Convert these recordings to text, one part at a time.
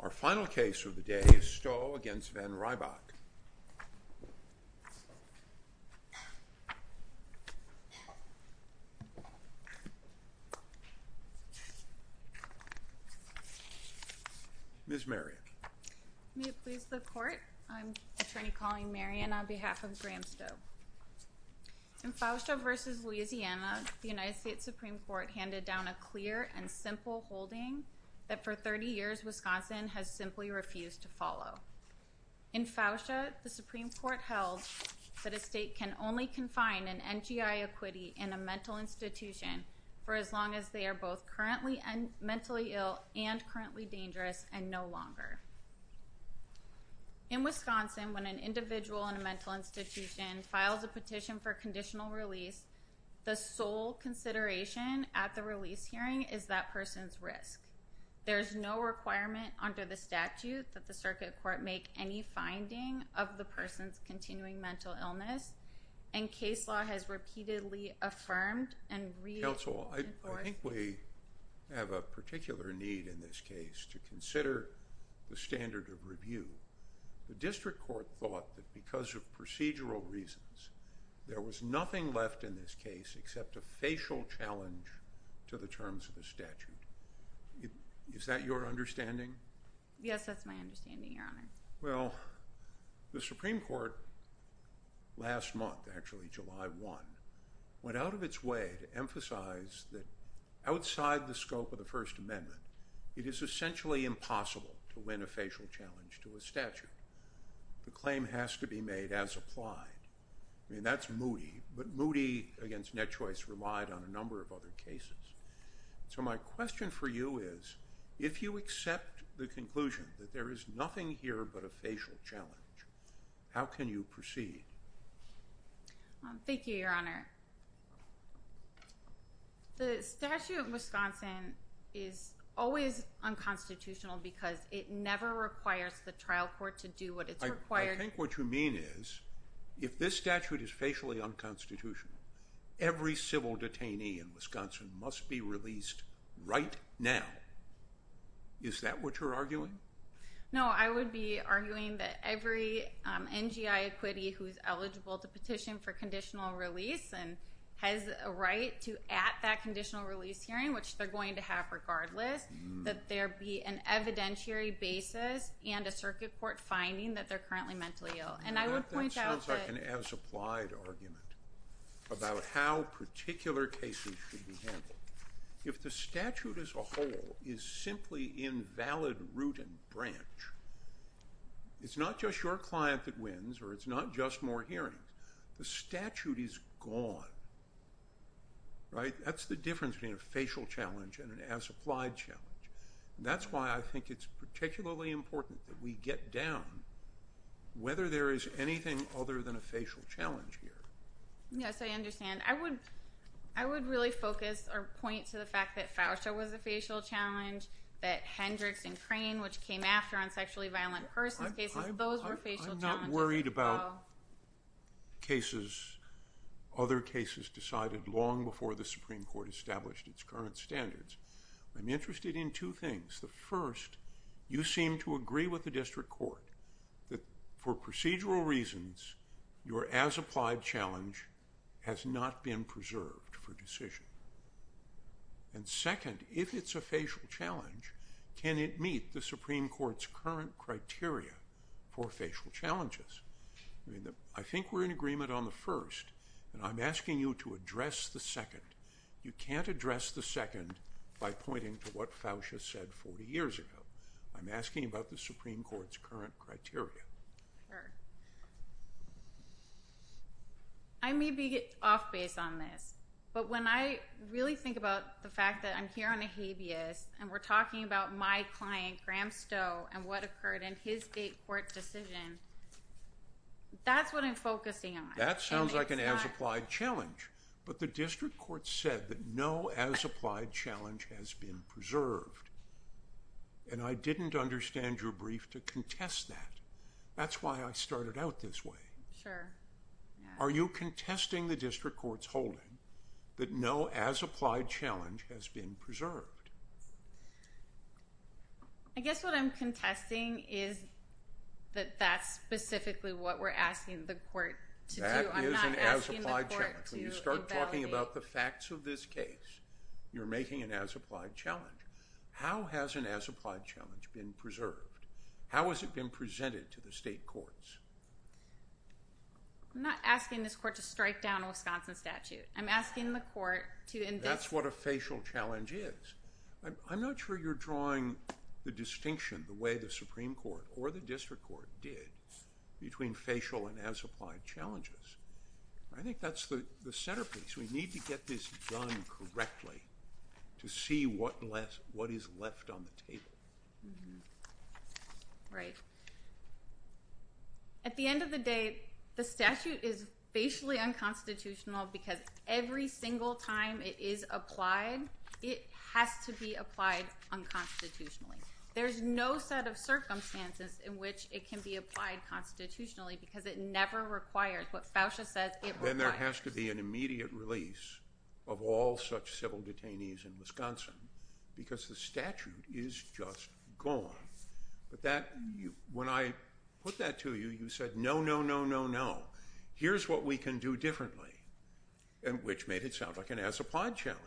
Our final case of the day is Stowe v. Van Rybroek. Ms. Marion. May it please the court, I'm attorney Colleen Marion on behalf of Graham Stowe. In Fausto v. Louisiana, the United States Supreme Court handed down a clear and simple holding that for 30 years, Wisconsin has simply refused to follow. In Fausto, the Supreme Court held that a state can only confine an NGI equity in a mental institution for as long as they are both currently mentally ill and currently dangerous and no longer. In Wisconsin, when an individual in a mental institution files a petition for conditional release, the sole consideration at the release hearing is that person's risk. There's no requirement under the statute that the circuit court make any finding of the person's continuing mental illness and case law has repeatedly affirmed and re- Counsel, I think we have a particular need in this case to consider the standard of review. The district court thought that because of procedural reasons, there was nothing left in this case except a facial challenge to the terms of the statute. Is that your understanding? Yes, that's my understanding, your honor. Well, the Supreme Court last month, actually July one, went out of its way to emphasize that outside the scope of the First Amendment, it is essentially impossible to win a facial challenge to a statute. The claim has to be made as applied. I mean, that's Moody, but Moody against Net Choice relied on a number of other cases. So my question for you is, if you accept the conclusion that there is nothing here but a facial challenge, how can you proceed? Thank you, your honor. The statute of Wisconsin is always unconstitutional because it never requires the trial court to do what it's required. I think what you mean is, if this statute is facially unconstitutional, every civil detainee in Wisconsin must be released right now. Is that what you're arguing? No, I would be arguing that every NGI acquittee who's eligible to petition for conditional release and has a right to at that conditional release hearing, which they're going to have regardless, that there be an evidentiary basis and a circuit court finding that they're currently mentally ill. And I would point out that- That sounds like an as applied argument about how particular cases should be handled. If the statute as a whole is simply invalid root and branch, it's not just your client that wins, or it's not just more hearings. The statute is gone, right? That's the difference between a facial challenge and an as applied challenge. That's why I think it's particularly important that we get down whether there is anything other than a facial challenge here. Yes, I understand. I would really focus or point to the fact that Fauscia was a facial challenge, that Hendricks and Crane, which came after on sexually violent persons cases, those were facial challenges as well. I'm not worried about cases, other cases decided long before the Supreme Court established its current standards. I'm interested in two things. The first, you seem to agree with the district court that for procedural reasons, your as applied challenge has not been preserved for decision. And second, if it's a facial challenge, can it meet the Supreme Court's current criteria for facial challenges? I think we're in agreement on the first, and I'm asking you to address the second. You can't address the second by pointing to what Fauscia said 40 years ago. I'm asking about the Supreme Court's current criteria. I may be off base on this, but when I really think about the fact that I'm here on a habeas, and we're talking about my client, Graham Stowe, and what occurred in his state court decision, that's what I'm focusing on. That sounds like an as applied challenge, but the district court said that no as applied challenge has been preserved. And I didn't understand your brief to contest that. That's why I started out this way. Sure. Are you contesting the district court's holding that no as applied challenge has been preserved? I guess what I'm contesting is that that's specifically what we're asking the court to do. I'm not asking the court to evaluate. When you start talking about the facts of this case, you're making an as applied challenge. How has an as applied challenge been preserved? How has it been presented to the state courts? I'm not asking this court to strike down a Wisconsin statute. I'm asking the court to invest. That's what a facial challenge is. I'm not sure you're drawing the distinction the way the Supreme Court or the district court did between facial and as applied challenges. I think that's the centerpiece. We need to get this done correctly to see what is left on the table. Right. At the end of the day, the statute is basically unconstitutional because every single time it is applied, it has to be applied unconstitutionally. There's no set of circumstances in which it can be applied constitutionally because it never requires what Fousha says it requires. Then there has to be an immediate release of all such civil detainees in Wisconsin because the statute is just gone. But when I put that to you, you said, no, no, no, no, no. Here's what we can do differently. And which made it sound like an as applied challenge.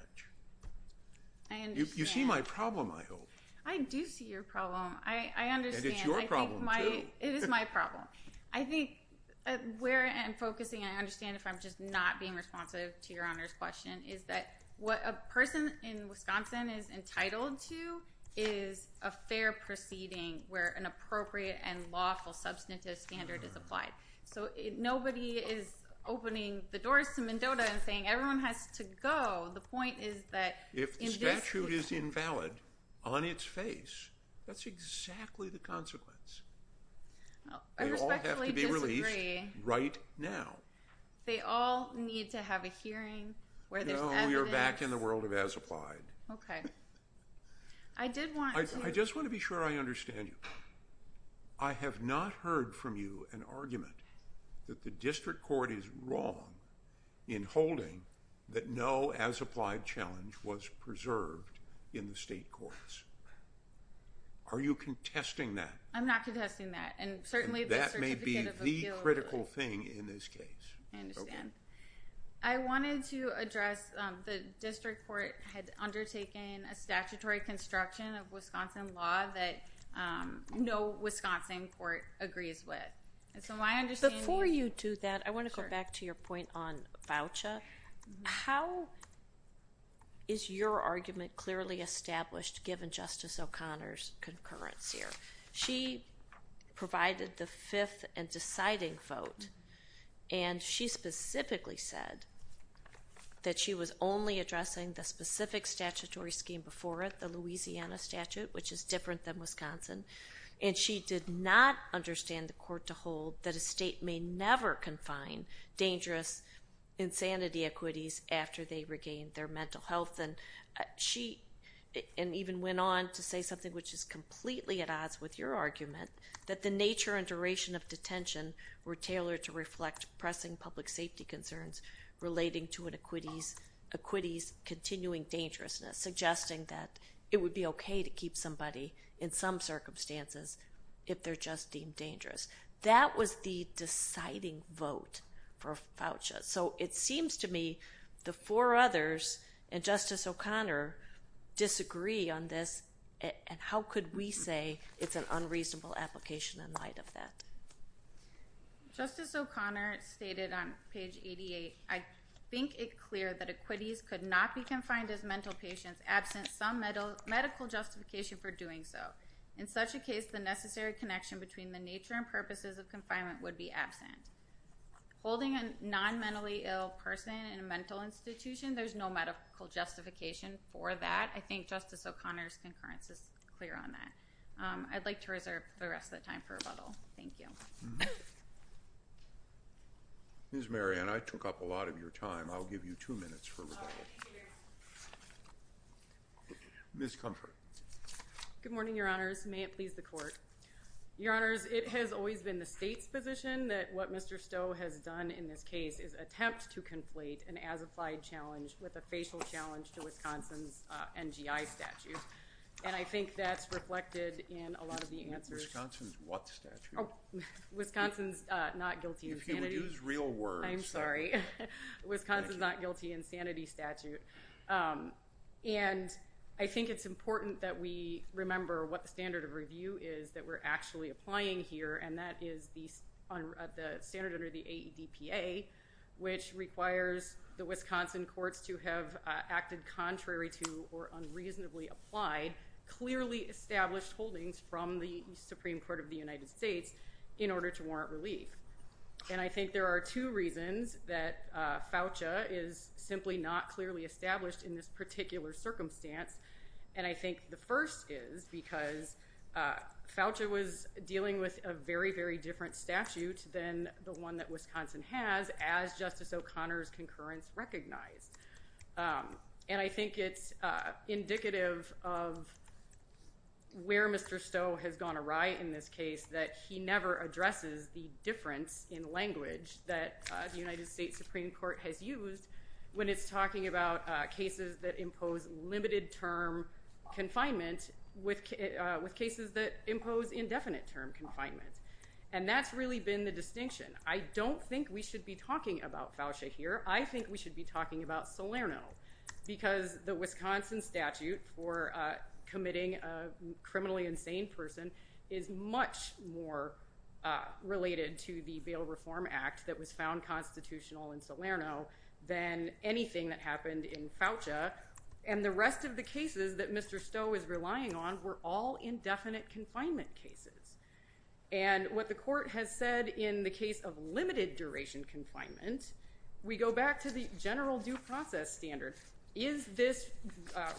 I understand. You see my problem, I hope. I do see your problem. I understand. And it's your problem too. It is my problem. I think where I'm focusing, I understand if I'm just not being responsive to your honor's question, is that what a person in Wisconsin is entitled to is a fair proceeding where an appropriate and lawful substantive standard is applied. So nobody is opening the doors to Mendota and saying everyone has to go. The point is that- If the statute is invalid on its face, that's exactly the consequence. They all have to be released right now. They all need to have a hearing where there's evidence. No, we are back in the world of as applied. Okay. I did want to- I just want to be sure I understand you. I have not heard from you an argument that the district court is wrong in holding that no as applied challenge was preserved in the state courts. Are you contesting that? I'm not contesting that. And certainly- That may be the critical thing in this case. I understand. I wanted to address the district court had undertaken a statutory construction of Wisconsin law that no Wisconsin court agrees with. And so my understanding- Before you do that, I want to go back to your point on voucher. How is your argument clearly established given Justice O'Connor's concurrence here? She provided the fifth and deciding vote. And she specifically said that she was only addressing the specific statutory scheme before it, the Louisiana statute, which is different than Wisconsin. And she did not understand the court to hold that a state may never confine dangerous insanity equities after they regained their mental health. And she even went on to say something which is completely at odds with your argument, that the nature and duration of detention were tailored to reflect pressing public safety concerns relating to an equities continuing dangerousness, suggesting that it would be okay to keep somebody in some circumstances if they're just deemed dangerous. That was the deciding vote for voucher. So it seems to me the four others and Justice O'Connor disagree on this. And how could we say it's an unreasonable application in light of that? Justice O'Connor stated on page 88, I think it clear that equities could not be confined as mental patients absent some medical justification for doing so. In such a case, the necessary connection between the nature and purposes of confinement would be absent. Holding a non-mentally ill person in a mental institution, there's no medical justification for that. I think Justice O'Connor's concurrence is clear on that. I'd like to reserve the rest of the time for rebuttal. Thank you. Ms. Marianne, I took up a lot of your time. I'll give you two minutes for rebuttal. Ms. Comfort. Good morning, your honors. May it please the court. Your honors, it has always been the state's position that what Mr. Stowe has done in this case is attempt to conflate an as-applied challenge with a facial challenge to Wisconsin's NGI statute. And I think that's reflected in a lot of the answers. Wisconsin's what statute? Wisconsin's not guilty insanity. If you would use real words. I'm sorry. Wisconsin's not guilty insanity statute. And I think it's important that we remember what the standard of review is that we're actually applying here. And that is the standard under the AEDPA, which requires the Wisconsin courts to have acted contrary to or unreasonably applied, clearly established holdings from the Supreme Court of the United States in order to warrant relief. And I think there are two reasons that FAUCHA is simply not clearly established in this particular circumstance. And I think the first is because FAUCHA was dealing with a very, very different statute than the one that Wisconsin has as Justice O'Connor's concurrence recognized. And I think it's indicative of where Mr. Stowe has gone awry in this case that he never addresses the difference in language that the United States Supreme Court has used when it's talking about cases that impose limited term confinement with cases that impose indefinite term confinement. And that's really been the distinction. I don't think we should be talking about FAUCHA here. I think we should be talking about Salerno because the Wisconsin statute for committing a criminally insane person is much more related to the Bail Reform Act that was found constitutional in Salerno than anything that happened in FAUCHA. And the rest of the cases that Mr. Stowe is relying on were all indefinite confinement cases. And what the court has said in the case of limited duration confinement, we go back to the general due process standard. Is this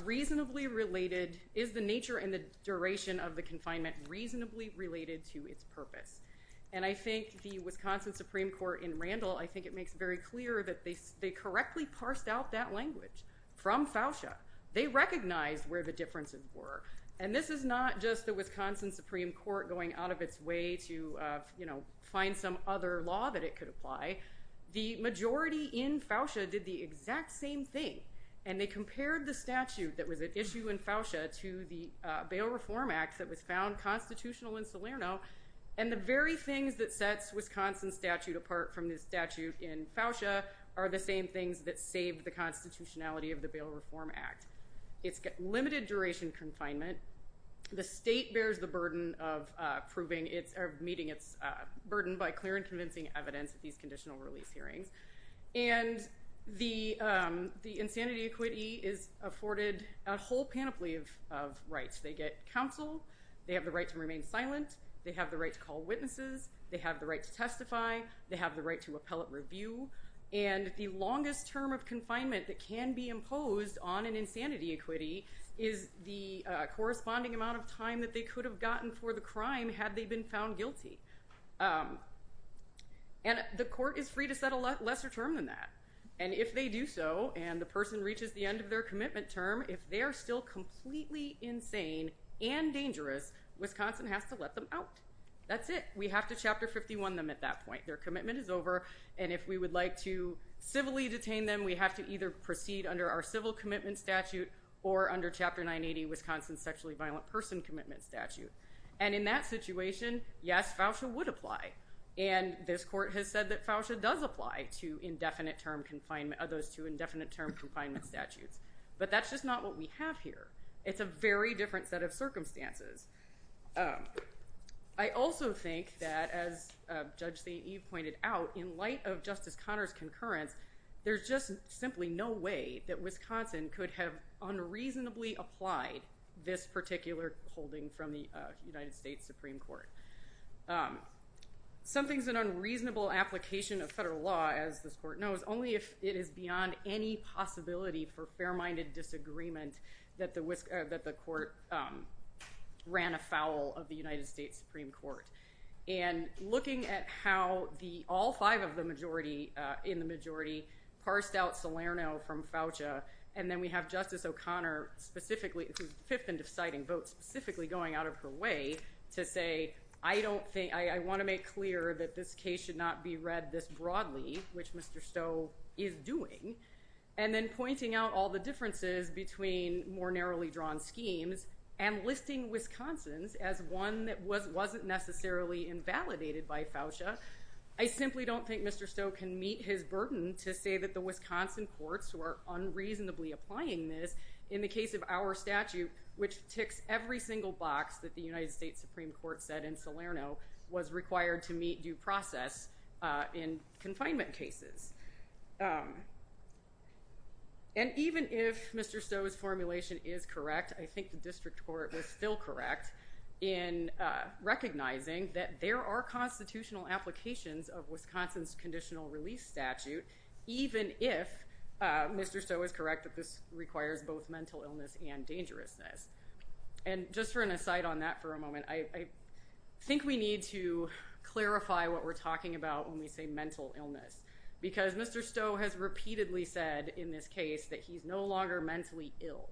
reasonably related, is the nature and the duration of the confinement reasonably related to its purpose? And I think the Wisconsin Supreme Court in Randall, I think it makes very clear that they correctly parsed out that language from FAUCHA. They recognized where the differences were. And this is not just the Wisconsin Supreme Court going out of its way to find some other law that it could apply. The majority in FAUCHA did the exact same thing. And they compared the statute that was at issue in FAUCHA to the Bail Reform Act that was found constitutional in Salerno. And the very things that sets Wisconsin statute apart from the statute in FAUCHA are the same things that saved the constitutionality of the Bail Reform Act. It's got limited duration confinement. The state bears the burden of proving it's meeting its burden by clear and convincing evidence at these conditional release hearings. And the insanity equity is afforded a whole panoply of rights. They get counsel, they have the right to remain silent, they have the right to call witnesses, they have the right to testify, they have the right to appellate review. And the longest term of confinement that can be imposed on an insanity equity is the corresponding amount of time that they could have gotten for the crime had they been found guilty. And the court is free to set a lesser term than that. And if they do so, and the person reaches the end of their commitment term, if they're still completely insane and dangerous, Wisconsin has to let them out. That's it. We have to Chapter 51 them at that point. Their commitment is over. And if we would like to civilly detain them, we have to either proceed under our civil commitment statute or under Chapter 980, Wisconsin Sexually Violent Person Commitment Statute. And in that situation, yes, FAUSA would apply. And this court has said that FAUSA does apply to indefinite term confinement, of those two indefinite term confinement statutes. But that's just not what we have here. It's a very different set of circumstances. I also think that, as Judge St. Eve pointed out, in light of Justice Conner's concurrence, there's just simply no way that Wisconsin could have unreasonably applied this particular holding from the United States Supreme Court. Something's an unreasonable application of federal law, as this court knows, only if it is beyond any possibility for fair-minded disagreement that the court ran afoul of the United States Supreme Court. And looking at how all five in the majority parsed out Salerno from FAUSA, and then we have Justice O'Connor specifically, who's fifth in deciding votes, specifically going out of her way, to say, I wanna make clear that this case should not be read this broadly, which Mr. Stowe is doing. And then pointing out all the differences between more narrowly drawn schemes and listing Wisconsin's as one that wasn't necessarily invalidated by FAUSA. I simply don't think Mr. Stowe can meet his burden to say that the Wisconsin courts were unreasonably applying this in the case of our statute, which ticks every single box that the United States Supreme Court said in Salerno was required to meet due process in confinement cases. And even if Mr. Stowe's formulation is correct, I think the district court was still correct in recognizing that there are constitutional applications of Wisconsin's conditional release statute, even if Mr. Stowe is correct that this requires both mental illness and dangerousness. And just for an aside on that for a moment, I think we need to clarify what we're talking about when we say mental illness, because Mr. Stowe has repeatedly said in this case that he's no longer mentally ill,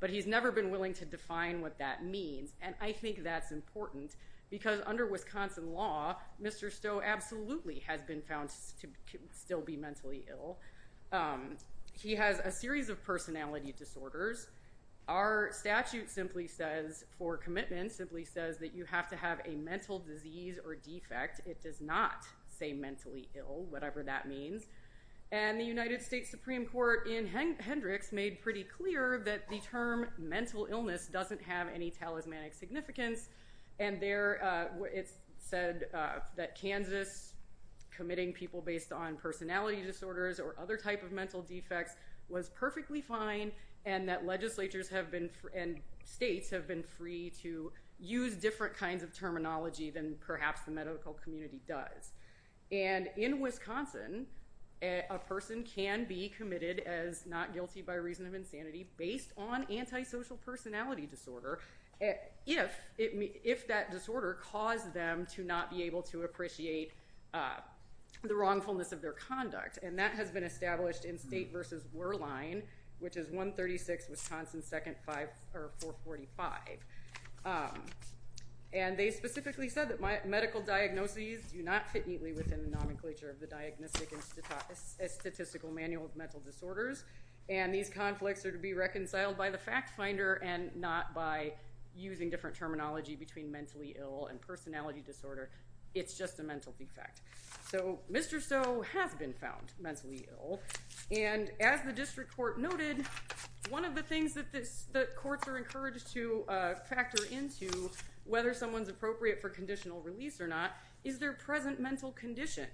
but he's never been willing to define what that means. And I think that's important, because under Wisconsin law, Mr. Stowe absolutely has been found to still be mentally ill. He has a series of personality disorders. Our statute simply says, for commitment, simply says that you have to have a mental disease or defect, it does not say mentally ill, whatever that means. And the United States Supreme Court in Hendricks made pretty clear that the term mental illness doesn't have any talismanic significance. And it said that Kansas committing people based on personality disorders or other type of mental defects was perfectly fine, and that legislatures and states have been free to use different kinds of terminology than perhaps the medical community does. And in Wisconsin, a person can be committed as not guilty by reason of insanity based on antisocial personality disorder, if that disorder caused them to not be able to appreciate the wrongfulness of their conduct. And that has been established in State versus Wehrlein, which is 136 Wisconsin 2nd 445. And they specifically said that medical diagnoses do not fit neatly within the nomenclature of the Diagnostic and Statistical Manual of Mental Disorders. And these conflicts are to be reconciled by the fact finder and not by using different terminology between mentally ill and personality disorder, it's just a mental defect. So Mr. Stowe has been found mentally ill. And as the district court noted, one of the things that the courts are encouraged to factor into whether someone's appropriate for conditional release or not, is their present mental condition.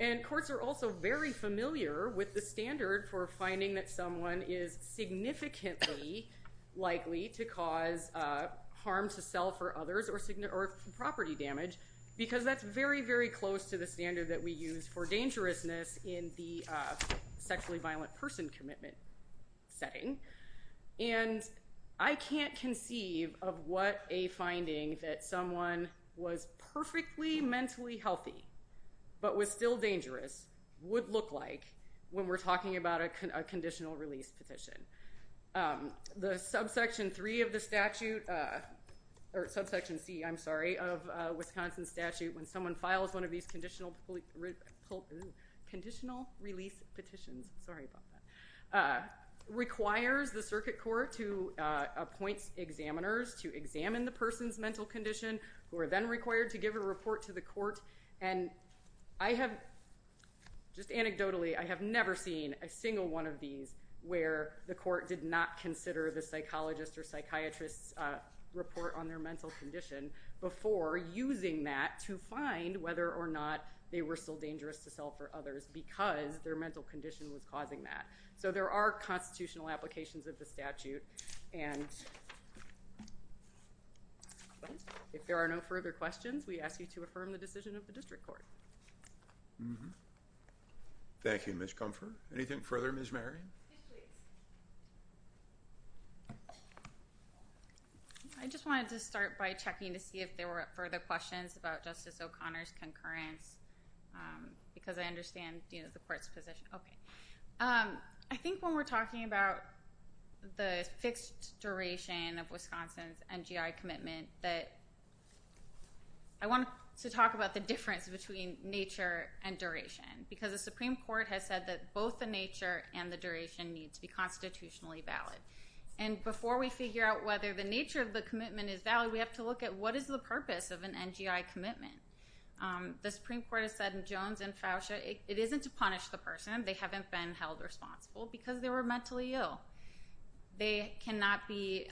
And courts are also very familiar with the standard for finding that someone is significantly likely to cause harm to self or others or property damage, because that's very, very close to the standard that we use for dangerousness in the sexually violent person commitment setting. And I can't conceive of what a finding that someone was perfectly mentally healthy, but was still dangerous would look like when we're talking about a conditional release petition. The subsection three of the statute, or subsection C, I'm sorry, of Wisconsin statute, when someone files one of these conditional, conditional release petitions, sorry about that, requires the circuit court to appoint examiners to examine the person's mental condition, who are then required to give a report to the court. And I have, just anecdotally, I have never seen a single one of these where the court did not consider the psychologist or psychiatrist's report on their mental condition before using that to find whether or not they were still dangerous to self or others, because their mental condition was causing that. So there are constitutional applications of the statute. And if there are no further questions, we ask you to affirm the decision of the district court. Thank you, Ms. Comfort. Anything further, Ms. Marion? I just wanted to start by checking to see if there were further questions about Justice O'Connor's concurrence, because I understand the court's position. I think when we're talking about the fixed duration of Wisconsin's NGI commitment, that I want to talk about the difference between nature and duration, because the Supreme Court has said that both the nature and the duration need to be constitutionally valid. And before we figure out whether the nature of the commitment is valid, we have to look at what is the purpose of an NGI commitment. The Supreme Court has said in Jones and Fauscia, it isn't to punish the person, they haven't been held responsible, because they were mentally ill. They cannot be,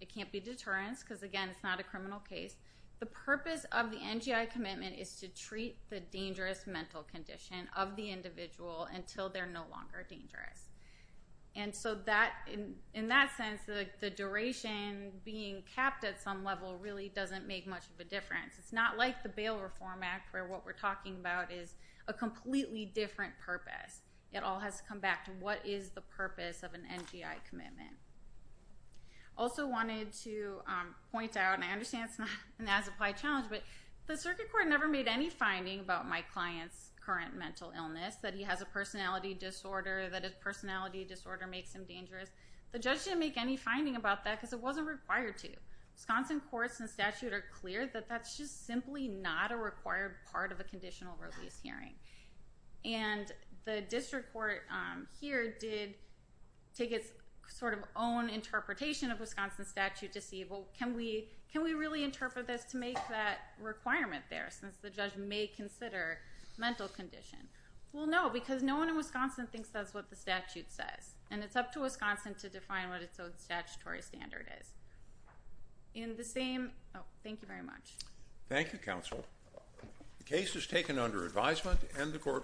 it can't be deterrence, because again, it's not a criminal case. The purpose of the NGI commitment is to treat the dangerous mental condition of the individual until they're no longer dangerous. And so that, in that sense, the duration being capped at some level really doesn't make much of a difference. It's not like the Bail Reform Act, where what we're talking about is a completely different purpose. It all has to come back to what is the purpose of an NGI commitment. Also wanted to point out, and I understand it's not an as-applied challenge, but the Circuit Court never made any finding about my client's current mental illness, that he has a personality disorder, that his personality disorder makes him dangerous. The judge didn't make any finding about that, because it wasn't required to. Wisconsin courts and statute are clear that that's just simply not a required part of a conditional release hearing. And the district court here did take its sort of own interpretation of Wisconsin statute to see, well, can we really interpret this to make that requirement there, since the judge may consider mental condition? Well, no, because no one in Wisconsin thinks that's what the statute says. And it's up to Wisconsin to define what its own statutory standard is. In the same, oh, thank you very much. Thank you, counsel. The case is taken under advisement, and the court.